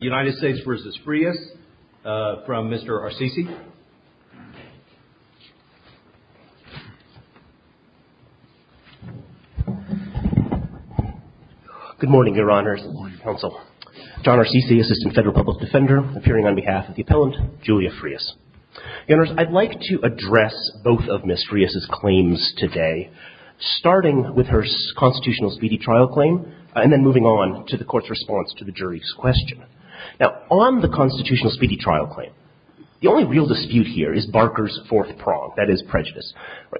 United States v. Frias from Mr. Arsici. Good morning, Your Honors. Good morning, Counsel. John Arsici, Assistant Federal Public Defender, appearing on behalf of the appellant, Julia Frias. Your Honors, I'd like to address both of Ms. Frias's claims today, starting with her constitutional speedy trial claim and then moving on to the Court's response to the jury's question. Now, on the constitutional speedy trial claim, the only real dispute here is Barker's fourth prong, that is, prejudice.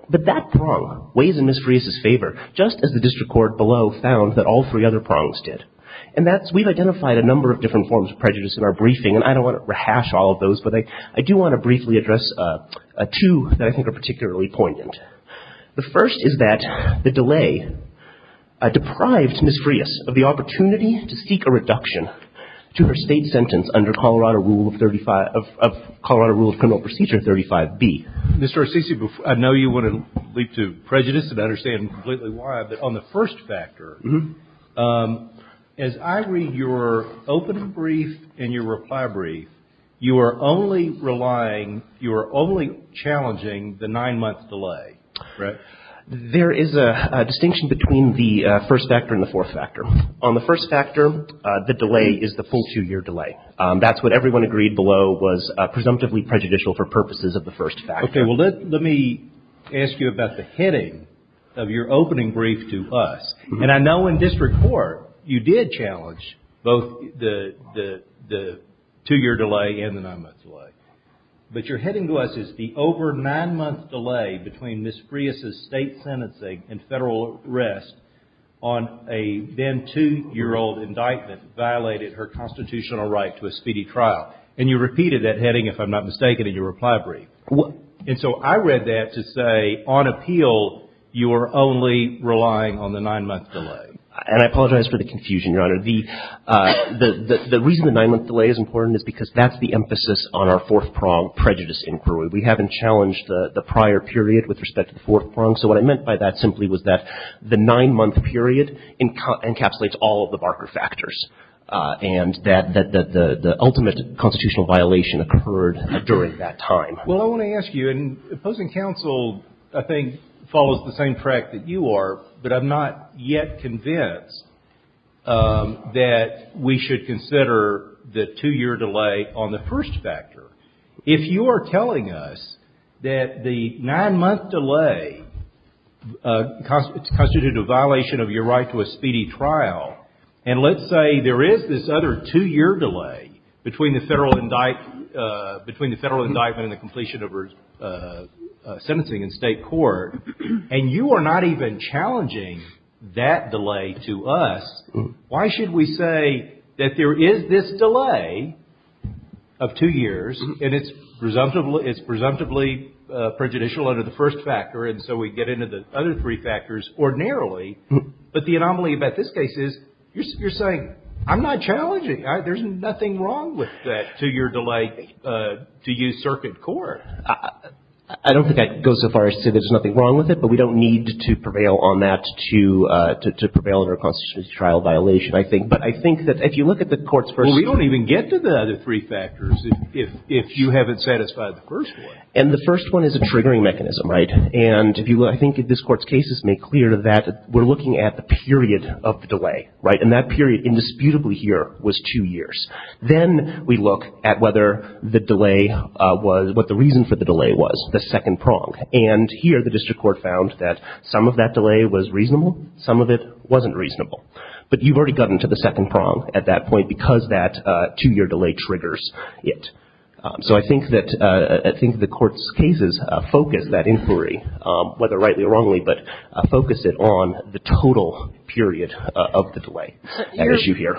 But that prong weighs in Ms. Frias's favor, just as the district court below found that all three other prongs did. And that's, we've identified a number of different forms of prejudice in our briefing, and I don't want to rehash all of those, but I do want to briefly address two that I think are particularly poignant. The first is that the delay deprived Ms. Frias of the opportunity to seek a reduction to her state sentence under Colorado Rule of 35, of Colorado Rule of Criminal Procedure 35B. Mr. Arsici, I know you want to leap to prejudice and understand completely why, but on the first factor, as I read your opening brief and your reply brief, you are only relying, you are only challenging the nine-month delay, correct? There is a distinction between the first factor and the fourth factor. On the first factor, the delay is the full two-year delay. That's what everyone agreed below was presumptively prejudicial for purposes of the first factor. Okay, well, let me ask you about the heading of your opening brief to us. And I know in district court, you did challenge both the two-year delay and the nine-month delay. But your heading to us is the over nine-month delay between Ms. Frias' state sentencing and federal arrest on a then two-year-old indictment violated her constitutional right to a speedy trial. And you repeated that heading, if I'm not mistaken, in your reply brief. And so I read that to say, on appeal, you are only relying on the nine-month delay. And I apologize for the confusion, Your Honor. The reason the nine-month delay is important is because that's the emphasis on our fourth-prong prejudice inquiry. We haven't challenged the prior period with respect to the fourth prong. So what I meant by that simply was that the nine-month period encapsulates all of the Barker factors, and that the ultimate constitutional violation occurred during that time. Well, I want to ask you, and opposing counsel, I think, follows the same track that you are, but I'm not yet convinced that we should consider the two-year delay on the first factor. If you are telling us that the nine-month delay constituted a violation of your right to a speedy trial, and let's say there is this other two-year delay between the federal indictment and the completion of her sentencing in state court, and you are not even challenging that delay to us, why should we say that there is this delay of two years, and it's presumptively prejudicial under the first factor, and so we get into the other three factors ordinarily, but the anomaly about this case is you're saying, I'm not challenging. There's nothing wrong with that two-year delay to use circuit court. I don't think that goes so far as to say there's nothing wrong with it, but we don't need to prevail on that to prevail over a constitutional trial violation, I think. But I think that if you look at the court's first factor — Well, we don't even get to the other three factors if you haven't satisfied the first one. And the first one is a triggering mechanism, right? And I think this Court's cases make clear that we're looking at the period of the delay, right? And that period, indisputably here, was two years. Then we look at whether the delay was — what the reason for the delay was, the second prong. And here the district court found that some of that delay was reasonable, some of it wasn't reasonable. But you've already gotten to the second prong at that point because that two-year delay triggers it. So I think that the Court's cases focus that inquiry, whether rightly or wrongly, but focus it on the total period of the delay, as you hear.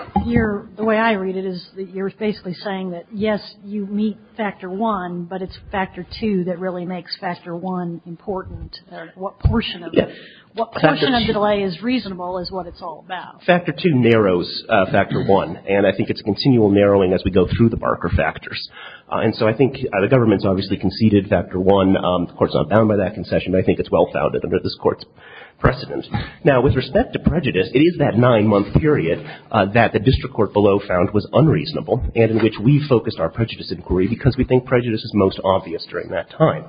The way I read it is that you're basically saying that, yes, you meet Factor I, but it's Factor II that really makes Factor I important. What portion of the delay is reasonable is what it's all about. Factor II narrows Factor I, and I think it's a continual narrowing as we go through the Barker factors. And so I think the government's obviously conceded Factor I. The Court's not bound by that concession, but I think it's well-founded under this Court's precedent. Now, with respect to prejudice, it is that nine-month period that the district court below found was unreasonable and in which we focused our prejudice inquiry because we think prejudice is most obvious during that time.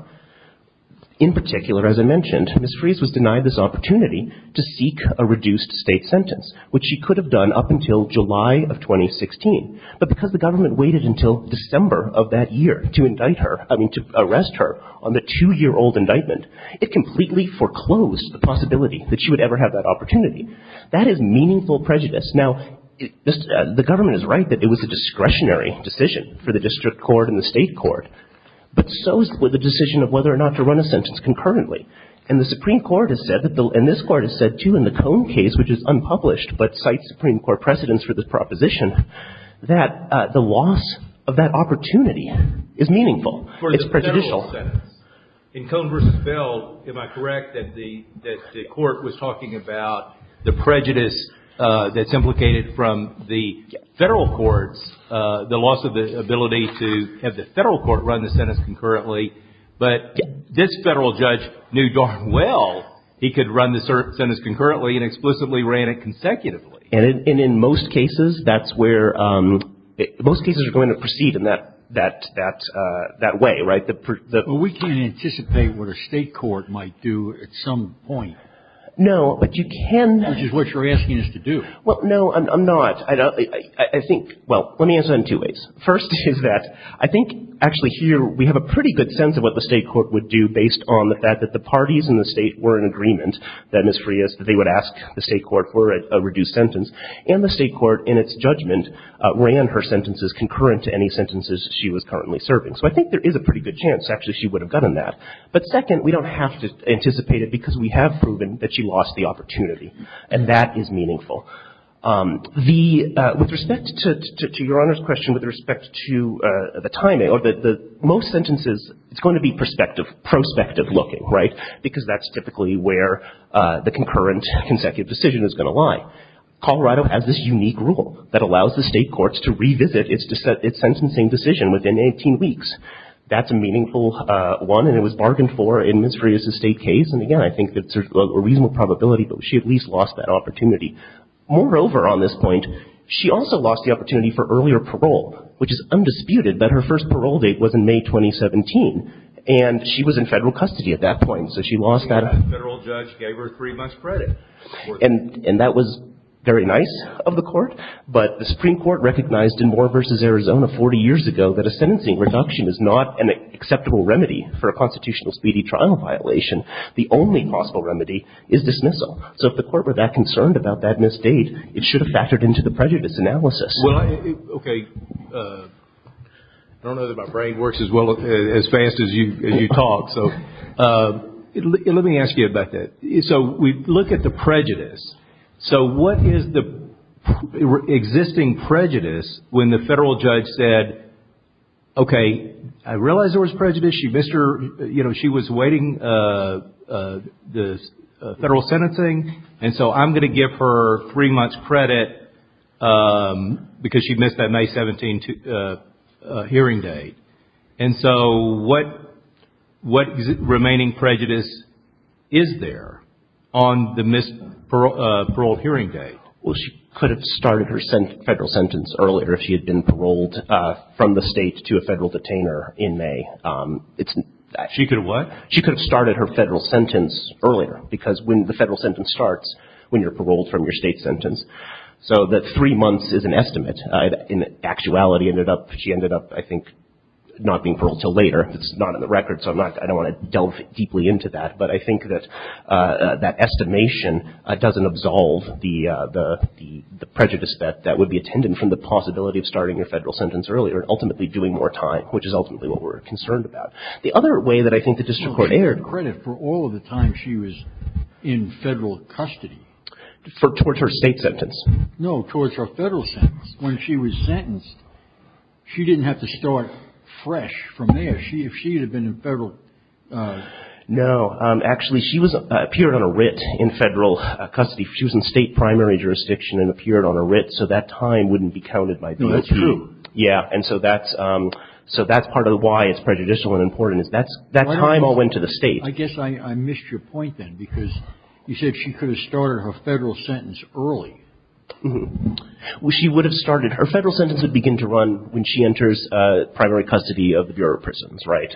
In particular, as I mentioned, Ms. Freese was denied this opportunity to seek a reduced State sentence, which she could have done up until July of 2016. But because the government waited until December of that year to indict her, I mean, to arrest her on the two-year-old indictment, it completely foreclosed the possibility that she would ever have that opportunity. That is meaningful prejudice. Now, the government is right that it was a discretionary decision for the district court and the State court, but so is the decision of whether or not to run a sentence concurrently. And the Supreme Court has said, and this Court has said, too, in the Cone case, which is unpublished but cites Supreme Court precedents for this proposition, that the loss of that opportunity is meaningful. It's prejudicial. In Cone v. Bell, am I correct that the Court was talking about the prejudice that's implicated from the Federal courts, the loss of the ability to have the Federal court run the sentence concurrently, but this Federal judge knew darn well he could run the sentence concurrently and explicitly ran it consecutively? And in most cases, that's where – most cases are going to proceed in that way, right? We can't anticipate what a State court might do at some point. No, but you can – Which is what you're asking us to do. Well, no, I'm not. I think – well, let me answer that in two ways. First is that I think actually here we have a pretty good sense of what the State court would do based on the fact that the parties in the State were in agreement that Ms. Freas – that they would ask the State court for a reduced sentence, and the State court in its judgment ran her sentences concurrent to any sentences she was currently serving. So I think there is a pretty good chance actually she would have done that. But second, we don't have to anticipate it because we have proven that she lost the opportunity, and that is meaningful. The – with respect to Your Honor's question, with respect to the timing, or the – most sentences, it's going to be prospective looking, right? Because that's typically where the concurrent consecutive decision is going to lie. Colorado has this unique rule that allows the State courts to revisit its sentencing decision within 18 weeks. That's a meaningful one, and it was bargained for in Ms. Freas' State case, and again, I think it's a reasonable probability that she at least lost that opportunity. Moreover, on this point, she also lost the opportunity for earlier parole, which is undisputed that her first parole date was in May 2017, and she was in Federal custody at that point, so she lost that. The Federal judge gave her three months' credit. And that was very nice of the court, but the Supreme Court recognized in Moore v. Arizona 40 years ago that a sentencing reduction is not an acceptable remedy for a constitutional speedy trial violation. The only possible remedy is dismissal. So if the court were that concerned about that missed date, it should have factored into the prejudice analysis. Well, okay. I don't know that my brain works as fast as you talk, so let me ask you about that. So we look at the prejudice. So what is the existing prejudice when the Federal judge said, okay, I realize there was prejudice. She missed her, you know, she was waiting the Federal sentencing, and so I'm going to give her three months' credit because she missed that May 17 hearing date. And so what remaining prejudice is there on the missed parole hearing date? Well, she could have started her Federal sentence earlier if she had been paroled from the State to a Federal detainer in May. She could have what? She could have started her Federal sentence earlier because when the Federal sentence starts, when you're paroled from your State sentence, so that three months is an estimate. In actuality, she ended up, I think, not being paroled until later. It's not in the record, so I don't want to delve deeply into that. But I think that that estimation doesn't absolve the prejudice that would be attended from the possibility of starting a Federal sentence earlier and ultimately doing more time, which is ultimately what we're concerned about. The other way that I think the district court erred. No, she had credit for all of the time she was in Federal custody. Towards her State sentence? No, towards her Federal sentence. When she was sentenced, she didn't have to start fresh from there. If she had been in Federal custody. No. Actually, she appeared on a writ in Federal custody. She was in State primary jurisdiction and appeared on a writ, so that time wouldn't be counted. No, that's true. Yeah. And so that's part of why it's prejudicial and important is that time all went to the State. I guess I missed your point then because you said she could have started her Federal sentence early. She would have started. Her Federal sentence would begin to run when she enters primary custody of the Bureau of Prisons, right?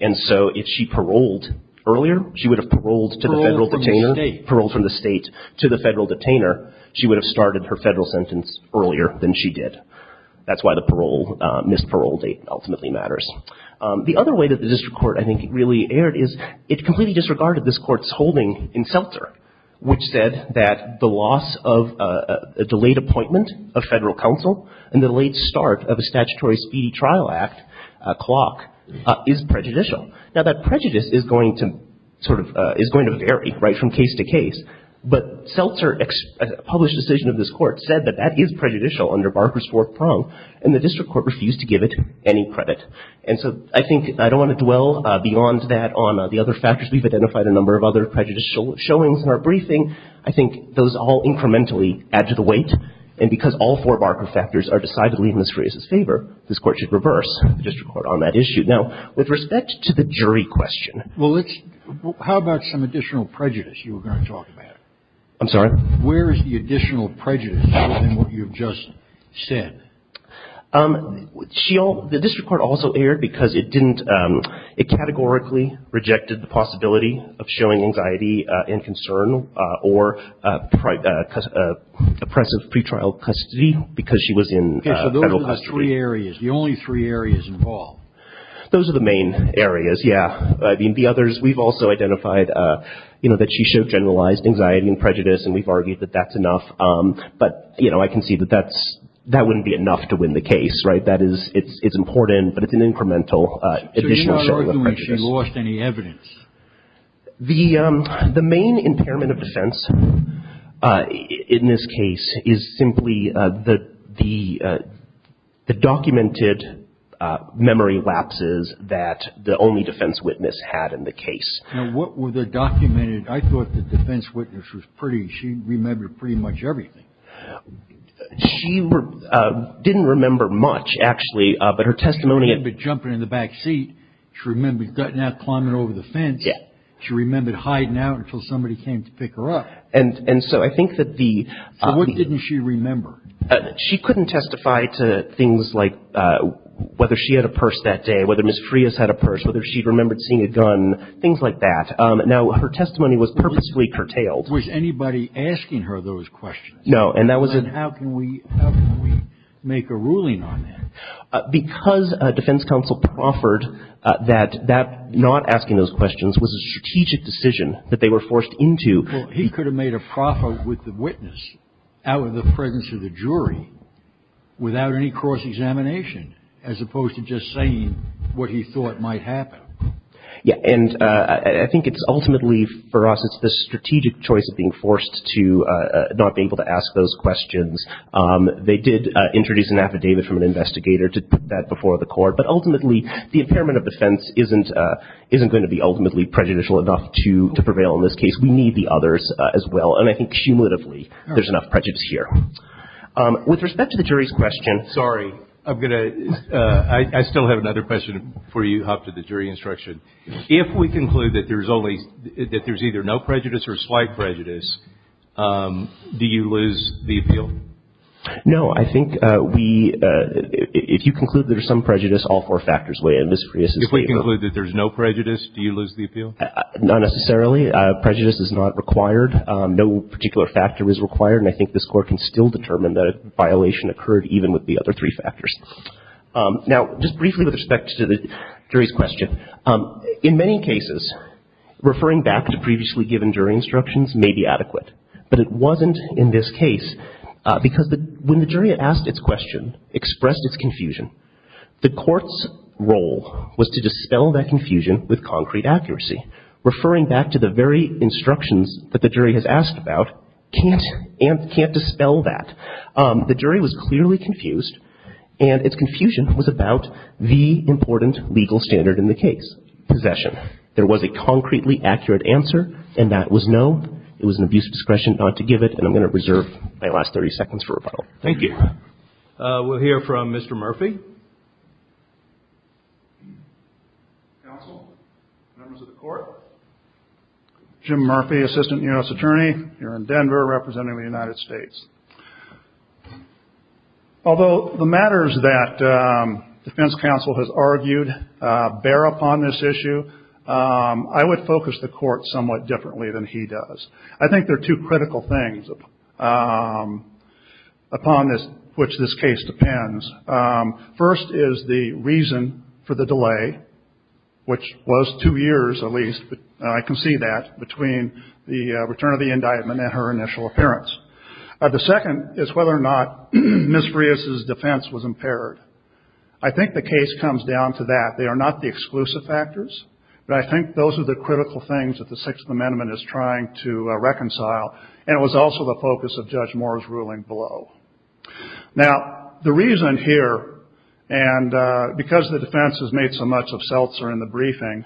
And so if she paroled earlier, she would have paroled to the Federal detainer. Paroled from the State. Paroled from the State to the Federal detainer. She would have started her Federal sentence earlier than she did. That's why the parole, missed parole date ultimately matters. The other way that the district court, I think, really erred is it completely disregarded this Court's holding in Seltzer, which said that the loss of a delayed appointment of Federal counsel and the late start of a statutory speedy trial act clock is prejudicial. Now, that prejudice is going to sort of, is going to vary right from case to case. But Seltzer's published decision of this Court said that that is prejudicial under Barker's fourth prong, and the district court refused to give it any credit. And so I think I don't want to dwell beyond that on the other factors. We've identified a number of other prejudicial showings in our briefing. I think those all incrementally add to the weight. And because all four Barker factors are decidedly in Ms. Frey's favor, this Court should reverse the district court on that issue. Now, with respect to the jury question. Well, let's, how about some additional prejudice you were going to talk about? I'm sorry? Where is the additional prejudice in what you've just said? The district court also erred because it didn't, it categorically rejected the possibility of showing anxiety and concern or oppressive pretrial custody because she was in federal custody. Okay, so those are the three areas, the only three areas involved. Those are the main areas, yeah. I mean, the others, we've also identified, you know, that she showed generalized anxiety and prejudice, and we've argued that that's enough. But, you know, I can see that that's, that wouldn't be enough to win the case, right? That is, it's important, but it's an incremental additional showing of prejudice. Did she lose any evidence? The main impairment of defense in this case is simply the documented memory lapses that the only defense witness had in the case. Now, what were the documented, I thought the defense witness was pretty, she remembered pretty much everything. She didn't remember much, actually, but her testimony. She didn't remember jumping in the back seat. She remembered gutting out, climbing over the fence. She remembered hiding out until somebody came to pick her up. And so I think that the. So what didn't she remember? She couldn't testify to things like whether she had a purse that day, whether Ms. Freas had a purse, whether she remembered seeing a gun, things like that. Now, her testimony was purposefully curtailed. Was anybody asking her those questions? No, and that was. Then how can we make a ruling on that? Because defense counsel proffered that not asking those questions was a strategic decision that they were forced into. Well, he could have made a proffer with the witness out of the presence of the jury without any cross-examination, as opposed to just saying what he thought might happen. Yeah, and I think it's ultimately for us, it's the strategic choice of being forced to not be able to ask those questions. They did introduce an affidavit from an investigator to put that before the court. But ultimately, the impairment of defense isn't going to be ultimately prejudicial enough to prevail in this case. We need the others as well. And I think cumulatively there's enough prejudice here. With respect to the jury's question. Sorry, I'm going to. I still have another question before you hop to the jury instruction. If we conclude that there's only, that there's either no prejudice or slight prejudice, do you lose the appeal? No. I think we, if you conclude there's some prejudice, all four factors weigh in. If we conclude that there's no prejudice, do you lose the appeal? Not necessarily. Prejudice is not required. No particular factor is required. And I think this Court can still determine that a violation occurred even with the other three factors. Now, just briefly with respect to the jury's question. In many cases, referring back to previously given jury instructions may be adequate. But it wasn't in this case because when the jury asked its question, expressed its confusion, the Court's role was to dispel that confusion with concrete accuracy. Referring back to the very instructions that the jury has asked about can't dispel that. The jury was clearly confused, and its confusion was about the important legal standard in the case, possession. There was a concretely accurate answer, and that was no. It was an abuse of discretion not to give it, and I'm going to reserve my last 30 seconds for rebuttal. Thank you. We'll hear from Mr. Murphy. Counsel, members of the Court. Jim Murphy, Assistant U.S. Attorney here in Denver representing the United States. Although the matters that defense counsel has argued bear upon this issue, I would focus the Court somewhat differently than he does. I think there are two critical things upon which this case depends. First is the reason for the delay, which was two years at least. I can see that between the return of the indictment and her initial appearance. The second is whether or not Ms. Rios' defense was impaired. I think the case comes down to that. They are not the exclusive factors, but I think those are the critical things that the Sixth Amendment is trying to reconcile, and it was also the focus of Judge Moore's ruling below. Now, the reason here, and because the defense has made so much of Seltzer in the briefing,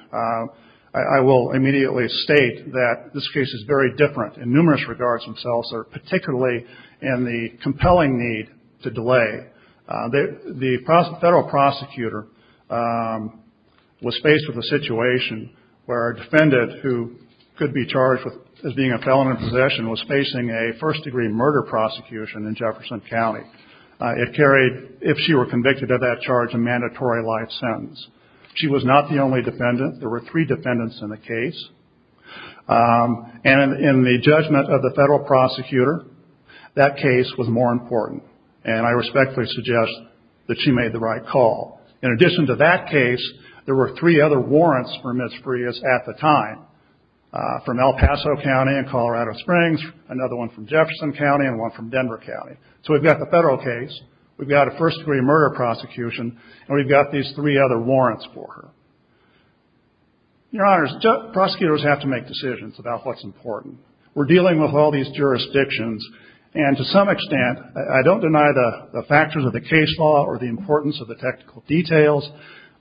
I will immediately state that this case is very different in numerous regards to Seltzer, particularly in the compelling need to delay. The federal prosecutor was faced with a situation where a defendant who could be charged as being a felon in possession was facing a first-degree murder prosecution in Jefferson County. It carried, if she were convicted of that charge, a mandatory life sentence. She was not the only defendant. There were three defendants in the case. And in the judgment of the federal prosecutor, that case was more important, and I respectfully suggest that she made the right call. In addition to that case, there were three other warrants for Ms. Rios at the time, from El Paso County and Colorado Springs, another one from Jefferson County, and one from Denver County. So we've got the federal case, we've got a first-degree murder prosecution, and we've got these three other warrants for her. Your Honors, prosecutors have to make decisions about what's important. We're dealing with all these jurisdictions, and to some extent, I don't deny the factors of the case law or the importance of the technical details,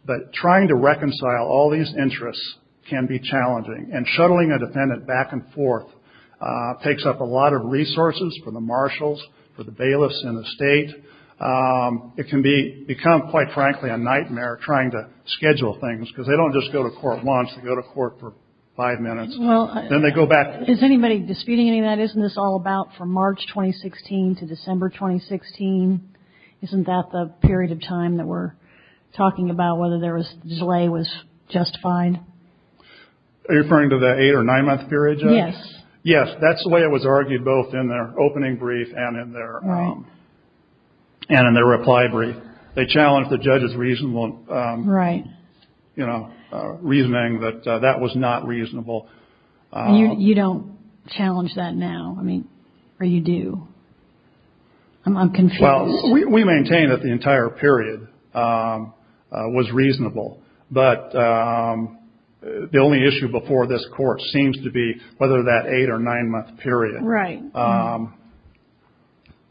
but trying to reconcile all these interests can be challenging. And shuttling a defendant back and forth takes up a lot of resources for the marshals, for the bailiffs in the state. It can become, quite frankly, a nightmare trying to schedule things, because they don't just go to court once, they go to court for five minutes, then they go back. Is anybody disputing any of that? Isn't this all about from March 2016 to December 2016? Isn't that the period of time that we're talking about, whether the delay was justified? Are you referring to the eight- or nine-month period, Judge? Yes. Yes, that's the way it was argued both in their opening brief and in their reply brief. They challenged the judge's reasonable reasoning that that was not reasonable. You don't challenge that now, or you do? I'm confused. Well, we maintain that the entire period was reasonable, but the only issue before this court seems to be whether that eight- or nine-month period. Right.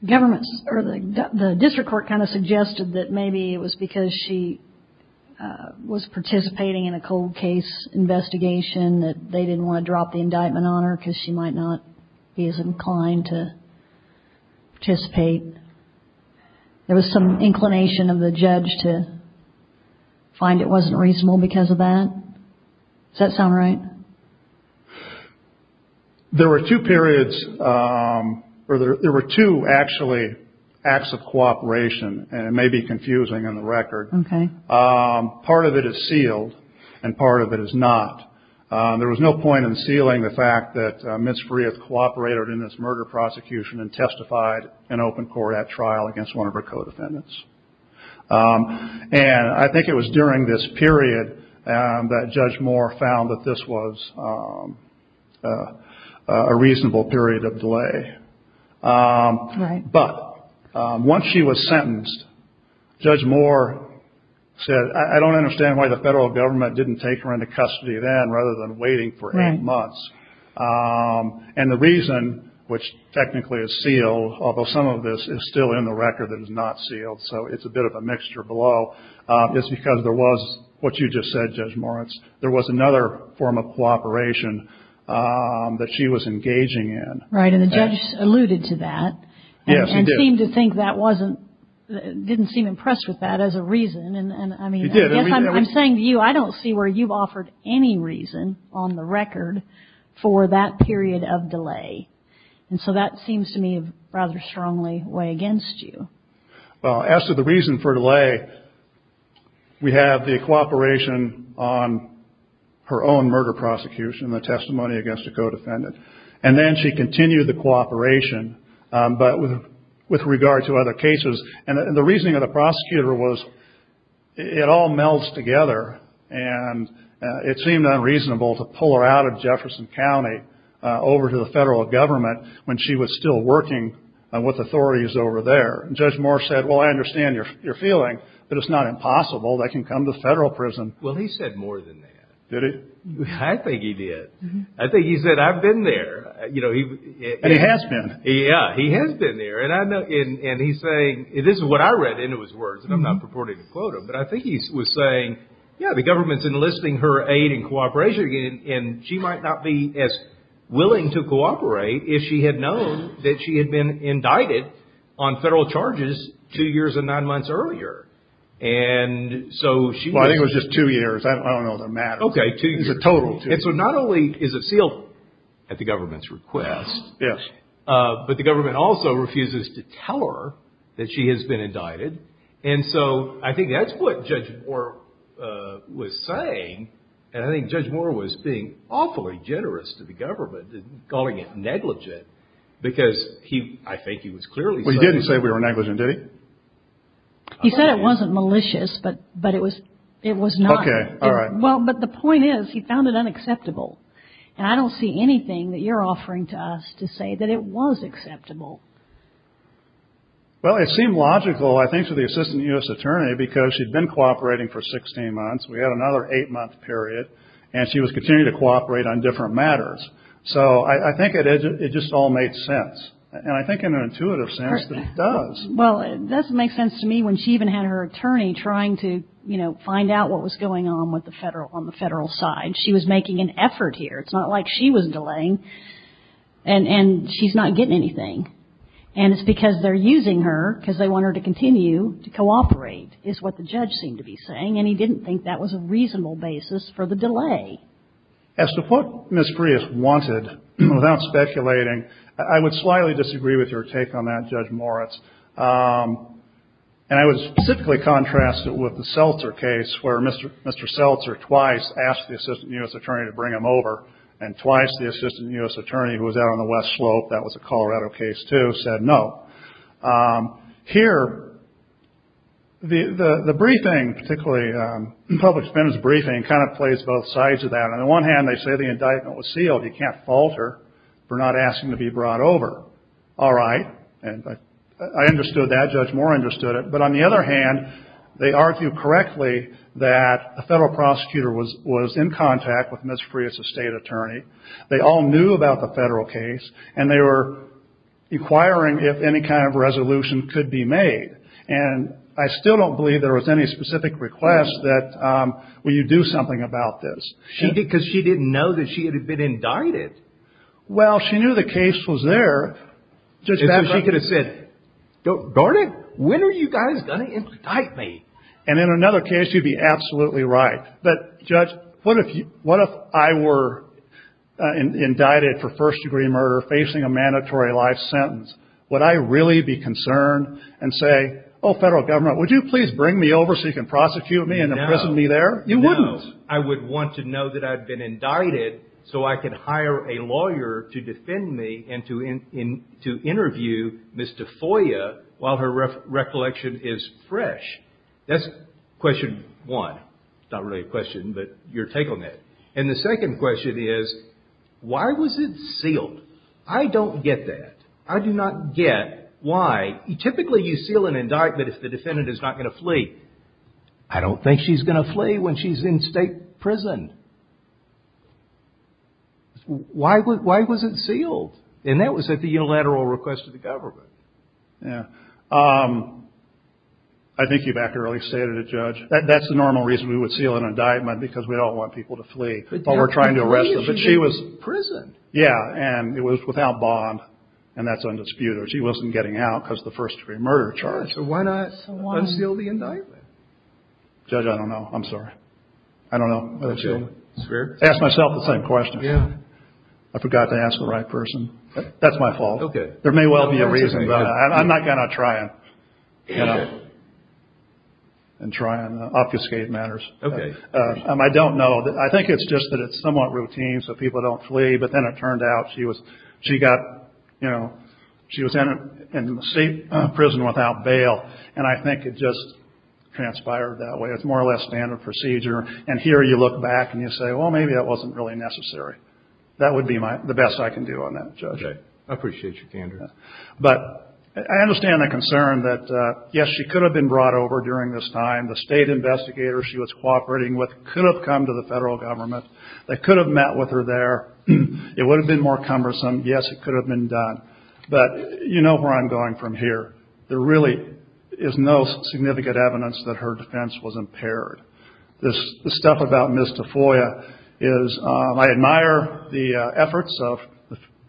The district court kind of suggested that maybe it was because she was participating in a cold case investigation that they didn't want to drop the indictment on her because she might not be as inclined to participate. There was some inclination of the judge to find it wasn't reasonable because of that? Does that sound right? There were two periods, or there were two, actually, acts of cooperation, and it may be confusing on the record. Okay. Part of it is sealed, and part of it is not. There was no point in sealing the fact that Ms. Freeth cooperated in this murder prosecution and testified in open court at trial against one of her co-defendants. And I think it was during this period that Judge Moore found that this was a reasonable period of delay. Right. But once she was sentenced, Judge Moore said, I don't understand why the federal government didn't take her into custody then rather than waiting for eight months. And the reason, which technically is sealed, although some of this is still in the record that is not sealed, so it's a bit of a mixture below, is because there was what you just said, Judge Moritz, there was another form of cooperation that she was engaging in. Right, and the judge alluded to that. Yes, he did. And seemed to think that wasn't, didn't seem impressed with that as a reason. He did. I'm saying to you, I don't see where you've offered any reason on the record for that period of delay. And so that seems to me to rather strongly weigh against you. Well, as to the reason for delay, we have the cooperation on her own murder prosecution, the testimony against a co-defendant. And then she continued the cooperation, but with regard to other cases. And the reasoning of the prosecutor was it all melds together, and it seemed unreasonable to pull her out of Jefferson County over to the federal government when she was still working with authorities over there. Judge Moore said, well, I understand your feeling, but it's not impossible. They can come to federal prison. Well, he said more than that. Did he? I think he did. I think he said, I've been there. And he has been. Yeah, he has been there. And he's saying, this is what I read into his words, and I'm not purporting to quote him, but I think he was saying, yeah, the government's enlisting her aid and cooperation again, and she might not be as willing to cooperate if she had known that she had been indicted on federal charges two years and nine months earlier. Well, I think it was just two years. I don't know the matter. Okay, two years. So not only is it sealed at the government's request, but the government also refuses to tell her that she has been indicted. And so I think that's what Judge Moore was saying, and I think Judge Moore was being awfully generous to the government, calling it negligent, because I think he was clearly saying that. Well, he didn't say we were negligent, did he? He said it wasn't malicious, but it was not. Okay, all right. Well, but the point is, he found it unacceptable. And I don't see anything that you're offering to us to say that it was acceptable. Well, it seemed logical, I think, to the assistant U.S. attorney, because she'd been cooperating for 16 months. We had another eight-month period, and she was continuing to cooperate on different matters. So I think it just all made sense. And I think in an intuitive sense that it does. Well, it doesn't make sense to me when she even had her attorney trying to, you know, find out what was going on with the Federal, on the Federal side. She was making an effort here. It's not like she was delaying, and she's not getting anything. And it's because they're using her, because they want her to continue to cooperate, is what the judge seemed to be saying. And he didn't think that was a reasonable basis for the delay. As to what Ms. Prius wanted, without speculating, I would slightly disagree with your take on that, Judge Moritz. And I would specifically contrast it with the Seltzer case, where Mr. Seltzer twice asked the assistant U.S. attorney to bring him over, and twice the assistant U.S. attorney, who was out on the West Slope, that was a Colorado case, too, said no. Here, the briefing, particularly the public spending briefing, kind of plays both sides of that. On the one hand, they say the indictment was sealed. You can't falter for not asking to be brought over. All right. I understood that. Judge Moore understood it. But on the other hand, they argued correctly that the federal prosecutor was in contact with Ms. Prius, a state attorney. They all knew about the federal case, and they were inquiring if any kind of resolution could be made. And I still don't believe there was any specific request that, well, you do something about this. Because she didn't know that she had been indicted. Well, she knew the case was there. She could have said, darn it, when are you guys going to indict me? And in another case, you'd be absolutely right. But, Judge, what if I were indicted for first-degree murder facing a mandatory life sentence? Would I really be concerned and say, oh, federal government, would you please bring me over so you can prosecute me and imprison me there? No. You wouldn't. No. I would want to know that I'd been indicted so I could hire a lawyer to defend me and to interview Ms. Tafoya while her recollection is fresh. That's question one. Not really a question, but your take on that. And the second question is, why was it sealed? I don't get that. I do not get why. I don't think she's going to flee when she's in state prison. Why was it sealed? And that was at the unilateral request of the government. Yeah. I think you've accurately stated it, Judge. That's the normal reason we would seal an indictment, because we don't want people to flee while we're trying to arrest them. But she was in prison. Yeah. And it was without bond. And that's undisputed. She wasn't getting out because of the first-degree murder charge. Why not unseal the indictment? Judge, I don't know. I'm sorry. I don't know. I asked myself the same question. I forgot to ask the right person. That's my fault. Okay. There may well be a reason, but I'm not going to try and obfuscate matters. Okay. I don't know. I think it's just that it's somewhat routine so people don't flee. But then it turned out she got, you know, she was in a state prison without bail. And I think it just transpired that way. It's more or less standard procedure. And here you look back and you say, well, maybe that wasn't really necessary. That would be the best I can do on that, Judge. I appreciate your candor. But I understand the concern that, yes, she could have been brought over during this time. The state investigators she was cooperating with could have come to the federal government. They could have met with her there. It would have been more cumbersome. Yes, it could have been done. But you know where I'm going from here. There really is no significant evidence that her defense was impaired. The stuff about Ms. Tafoya is I admire the efforts of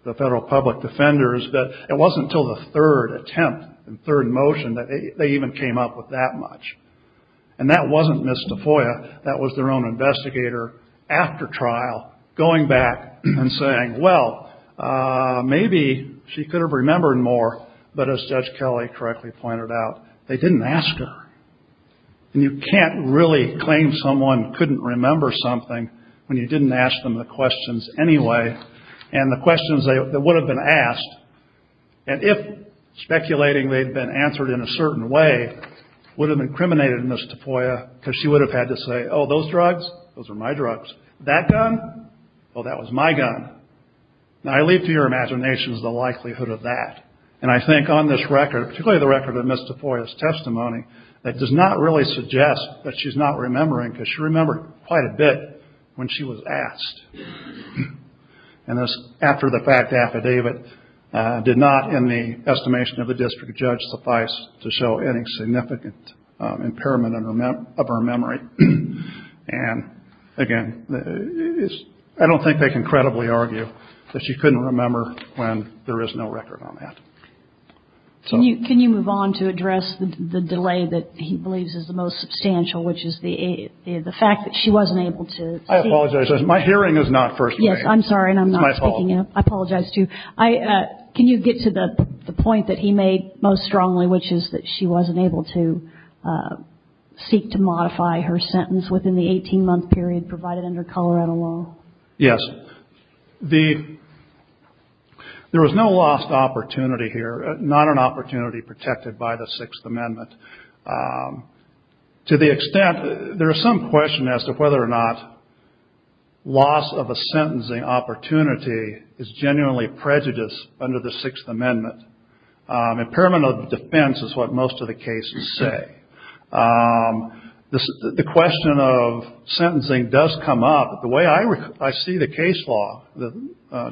the federal public defenders, but it wasn't until the third attempt and third motion that they even came up with that much. And that wasn't Ms. Tafoya. That was their own investigator after trial going back and saying, well, maybe she could have remembered more. But as Judge Kelly correctly pointed out, they didn't ask her. And you can't really claim someone couldn't remember something when you didn't ask them the questions anyway. And the questions that would have been asked, and if speculating they'd been answered in a certain way, would have incriminated Ms. Tafoya because she would have had to say, oh, those drugs? Those are my drugs. That gun? Well, that was my gun. Now, I leave to your imaginations the likelihood of that. And I think on this record, particularly the record of Ms. Tafoya's testimony, that does not really suggest that she's not remembering because she remembered quite a bit when she was asked. And this, after the fact affidavit, did not, in the estimation of the district judge, suffice to show any significant impairment of her memory. And, again, I don't think they can credibly argue that she couldn't remember when there is no record on that. Can you move on to address the delay that he believes is the most substantial, which is the fact that she wasn't able to hear? I apologize. My hearing is not first grade. Yes, I'm sorry, and I'm not speaking up. It's my fault. I apologize, too. Can you get to the point that he made most strongly, which is that she wasn't able to seek to modify her sentence within the 18-month period provided under Colorado law? Yes. There was no lost opportunity here, not an opportunity protected by the Sixth Amendment. To the extent, there is some question as to whether or not loss of a sentencing opportunity is genuinely prejudiced under the Sixth Amendment. Impairment of defense is what most of the cases say. The question of sentencing does come up. The way I see the case law, the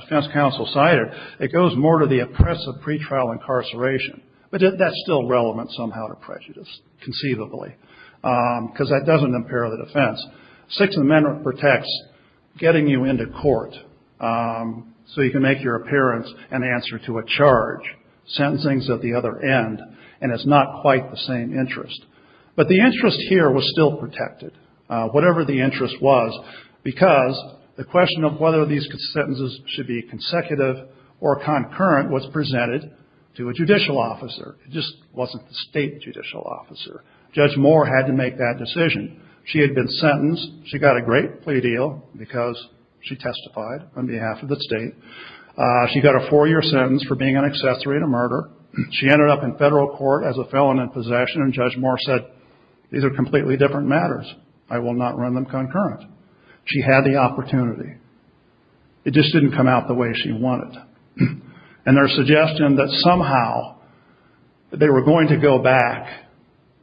defense counsel cited, it goes more to the oppressive pretrial incarceration. But that's still relevant somehow to prejudice, conceivably, because that doesn't impair the defense. Sixth Amendment protects getting you into court so you can make your appearance and answer to a charge. Sentencing is at the other end, and it's not quite the same interest. But the interest here was still protected, whatever the interest was, because the question of whether these sentences should be consecutive or concurrent was presented to a judicial officer. It just wasn't the state judicial officer. Judge Moore had to make that decision. She had been sentenced. She got a great plea deal because she testified on behalf of the state. She got a four-year sentence for being an accessory to murder. She ended up in federal court as a felon in possession, and Judge Moore said, these are completely different matters. I will not run them concurrent. She had the opportunity. It just didn't come out the way she wanted. And there's suggestion that somehow they were going to go back.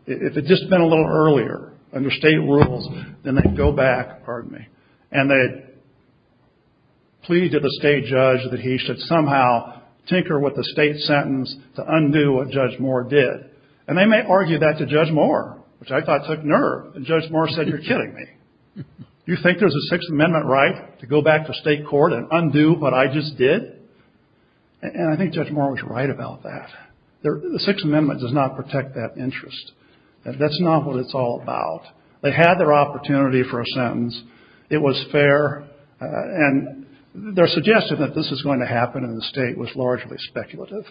If it had just been a little earlier under state rules, then they'd go back, pardon me, and they'd plead to the state judge that he should somehow tinker with the state sentence to undo what Judge Moore did. And they may argue that to Judge Moore, which I thought took nerve. And Judge Moore said, you're kidding me. You think there's a Sixth Amendment right to go back to state court and undo what I just did? And I think Judge Moore was right about that. The Sixth Amendment does not protect that interest. That's not what it's all about. They had their opportunity for a sentence. It was fair. And their suggestion that this was going to happen in the state was largely speculative.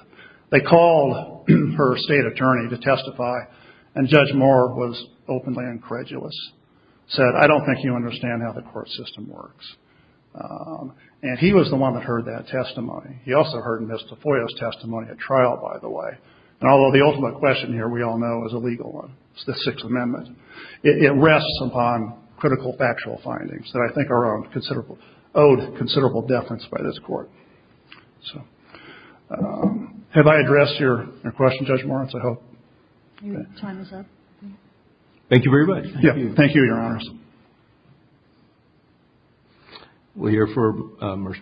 They called her state attorney to testify, and Judge Moore was openly incredulous, said, I don't think you understand how the court system works. And he was the one that heard that testimony. He also heard Ms. Tafoya's testimony at trial, by the way. And although the ultimate question here, we all know, is a legal one. It's the Sixth Amendment. It rests upon critical factual findings that I think are owed considerable deference by this court. So have I addressed your question, Judge Moritz, I hope? Your time is up. Thank you very much. Thank you, Your Honors. We'll hear from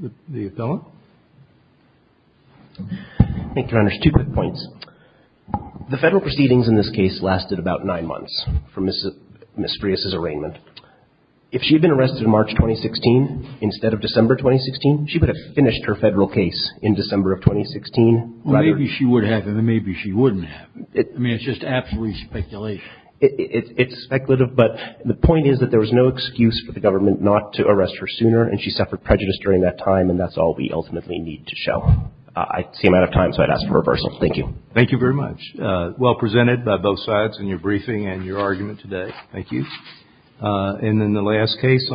the appellant. Thank you, Your Honors. Two quick points. The Federal proceedings in this case lasted about nine months for Ms. Frias's arraignment. If she had been arrested in March 2016 instead of December 2016, she would have finished her Federal case in December of 2016. Maybe she would have, and maybe she wouldn't have. I mean, it's just absolute speculation. It's speculative, but the point is that there was no excuse for the government not to arrest her sooner, and she suffered prejudice during that time, and that's all we ultimately need to show. I see I'm out of time, so I'd ask for a reversal. Thank you. Thank you very much. Well presented by both sides in your briefing and your argument today. Thank you. And then the last case.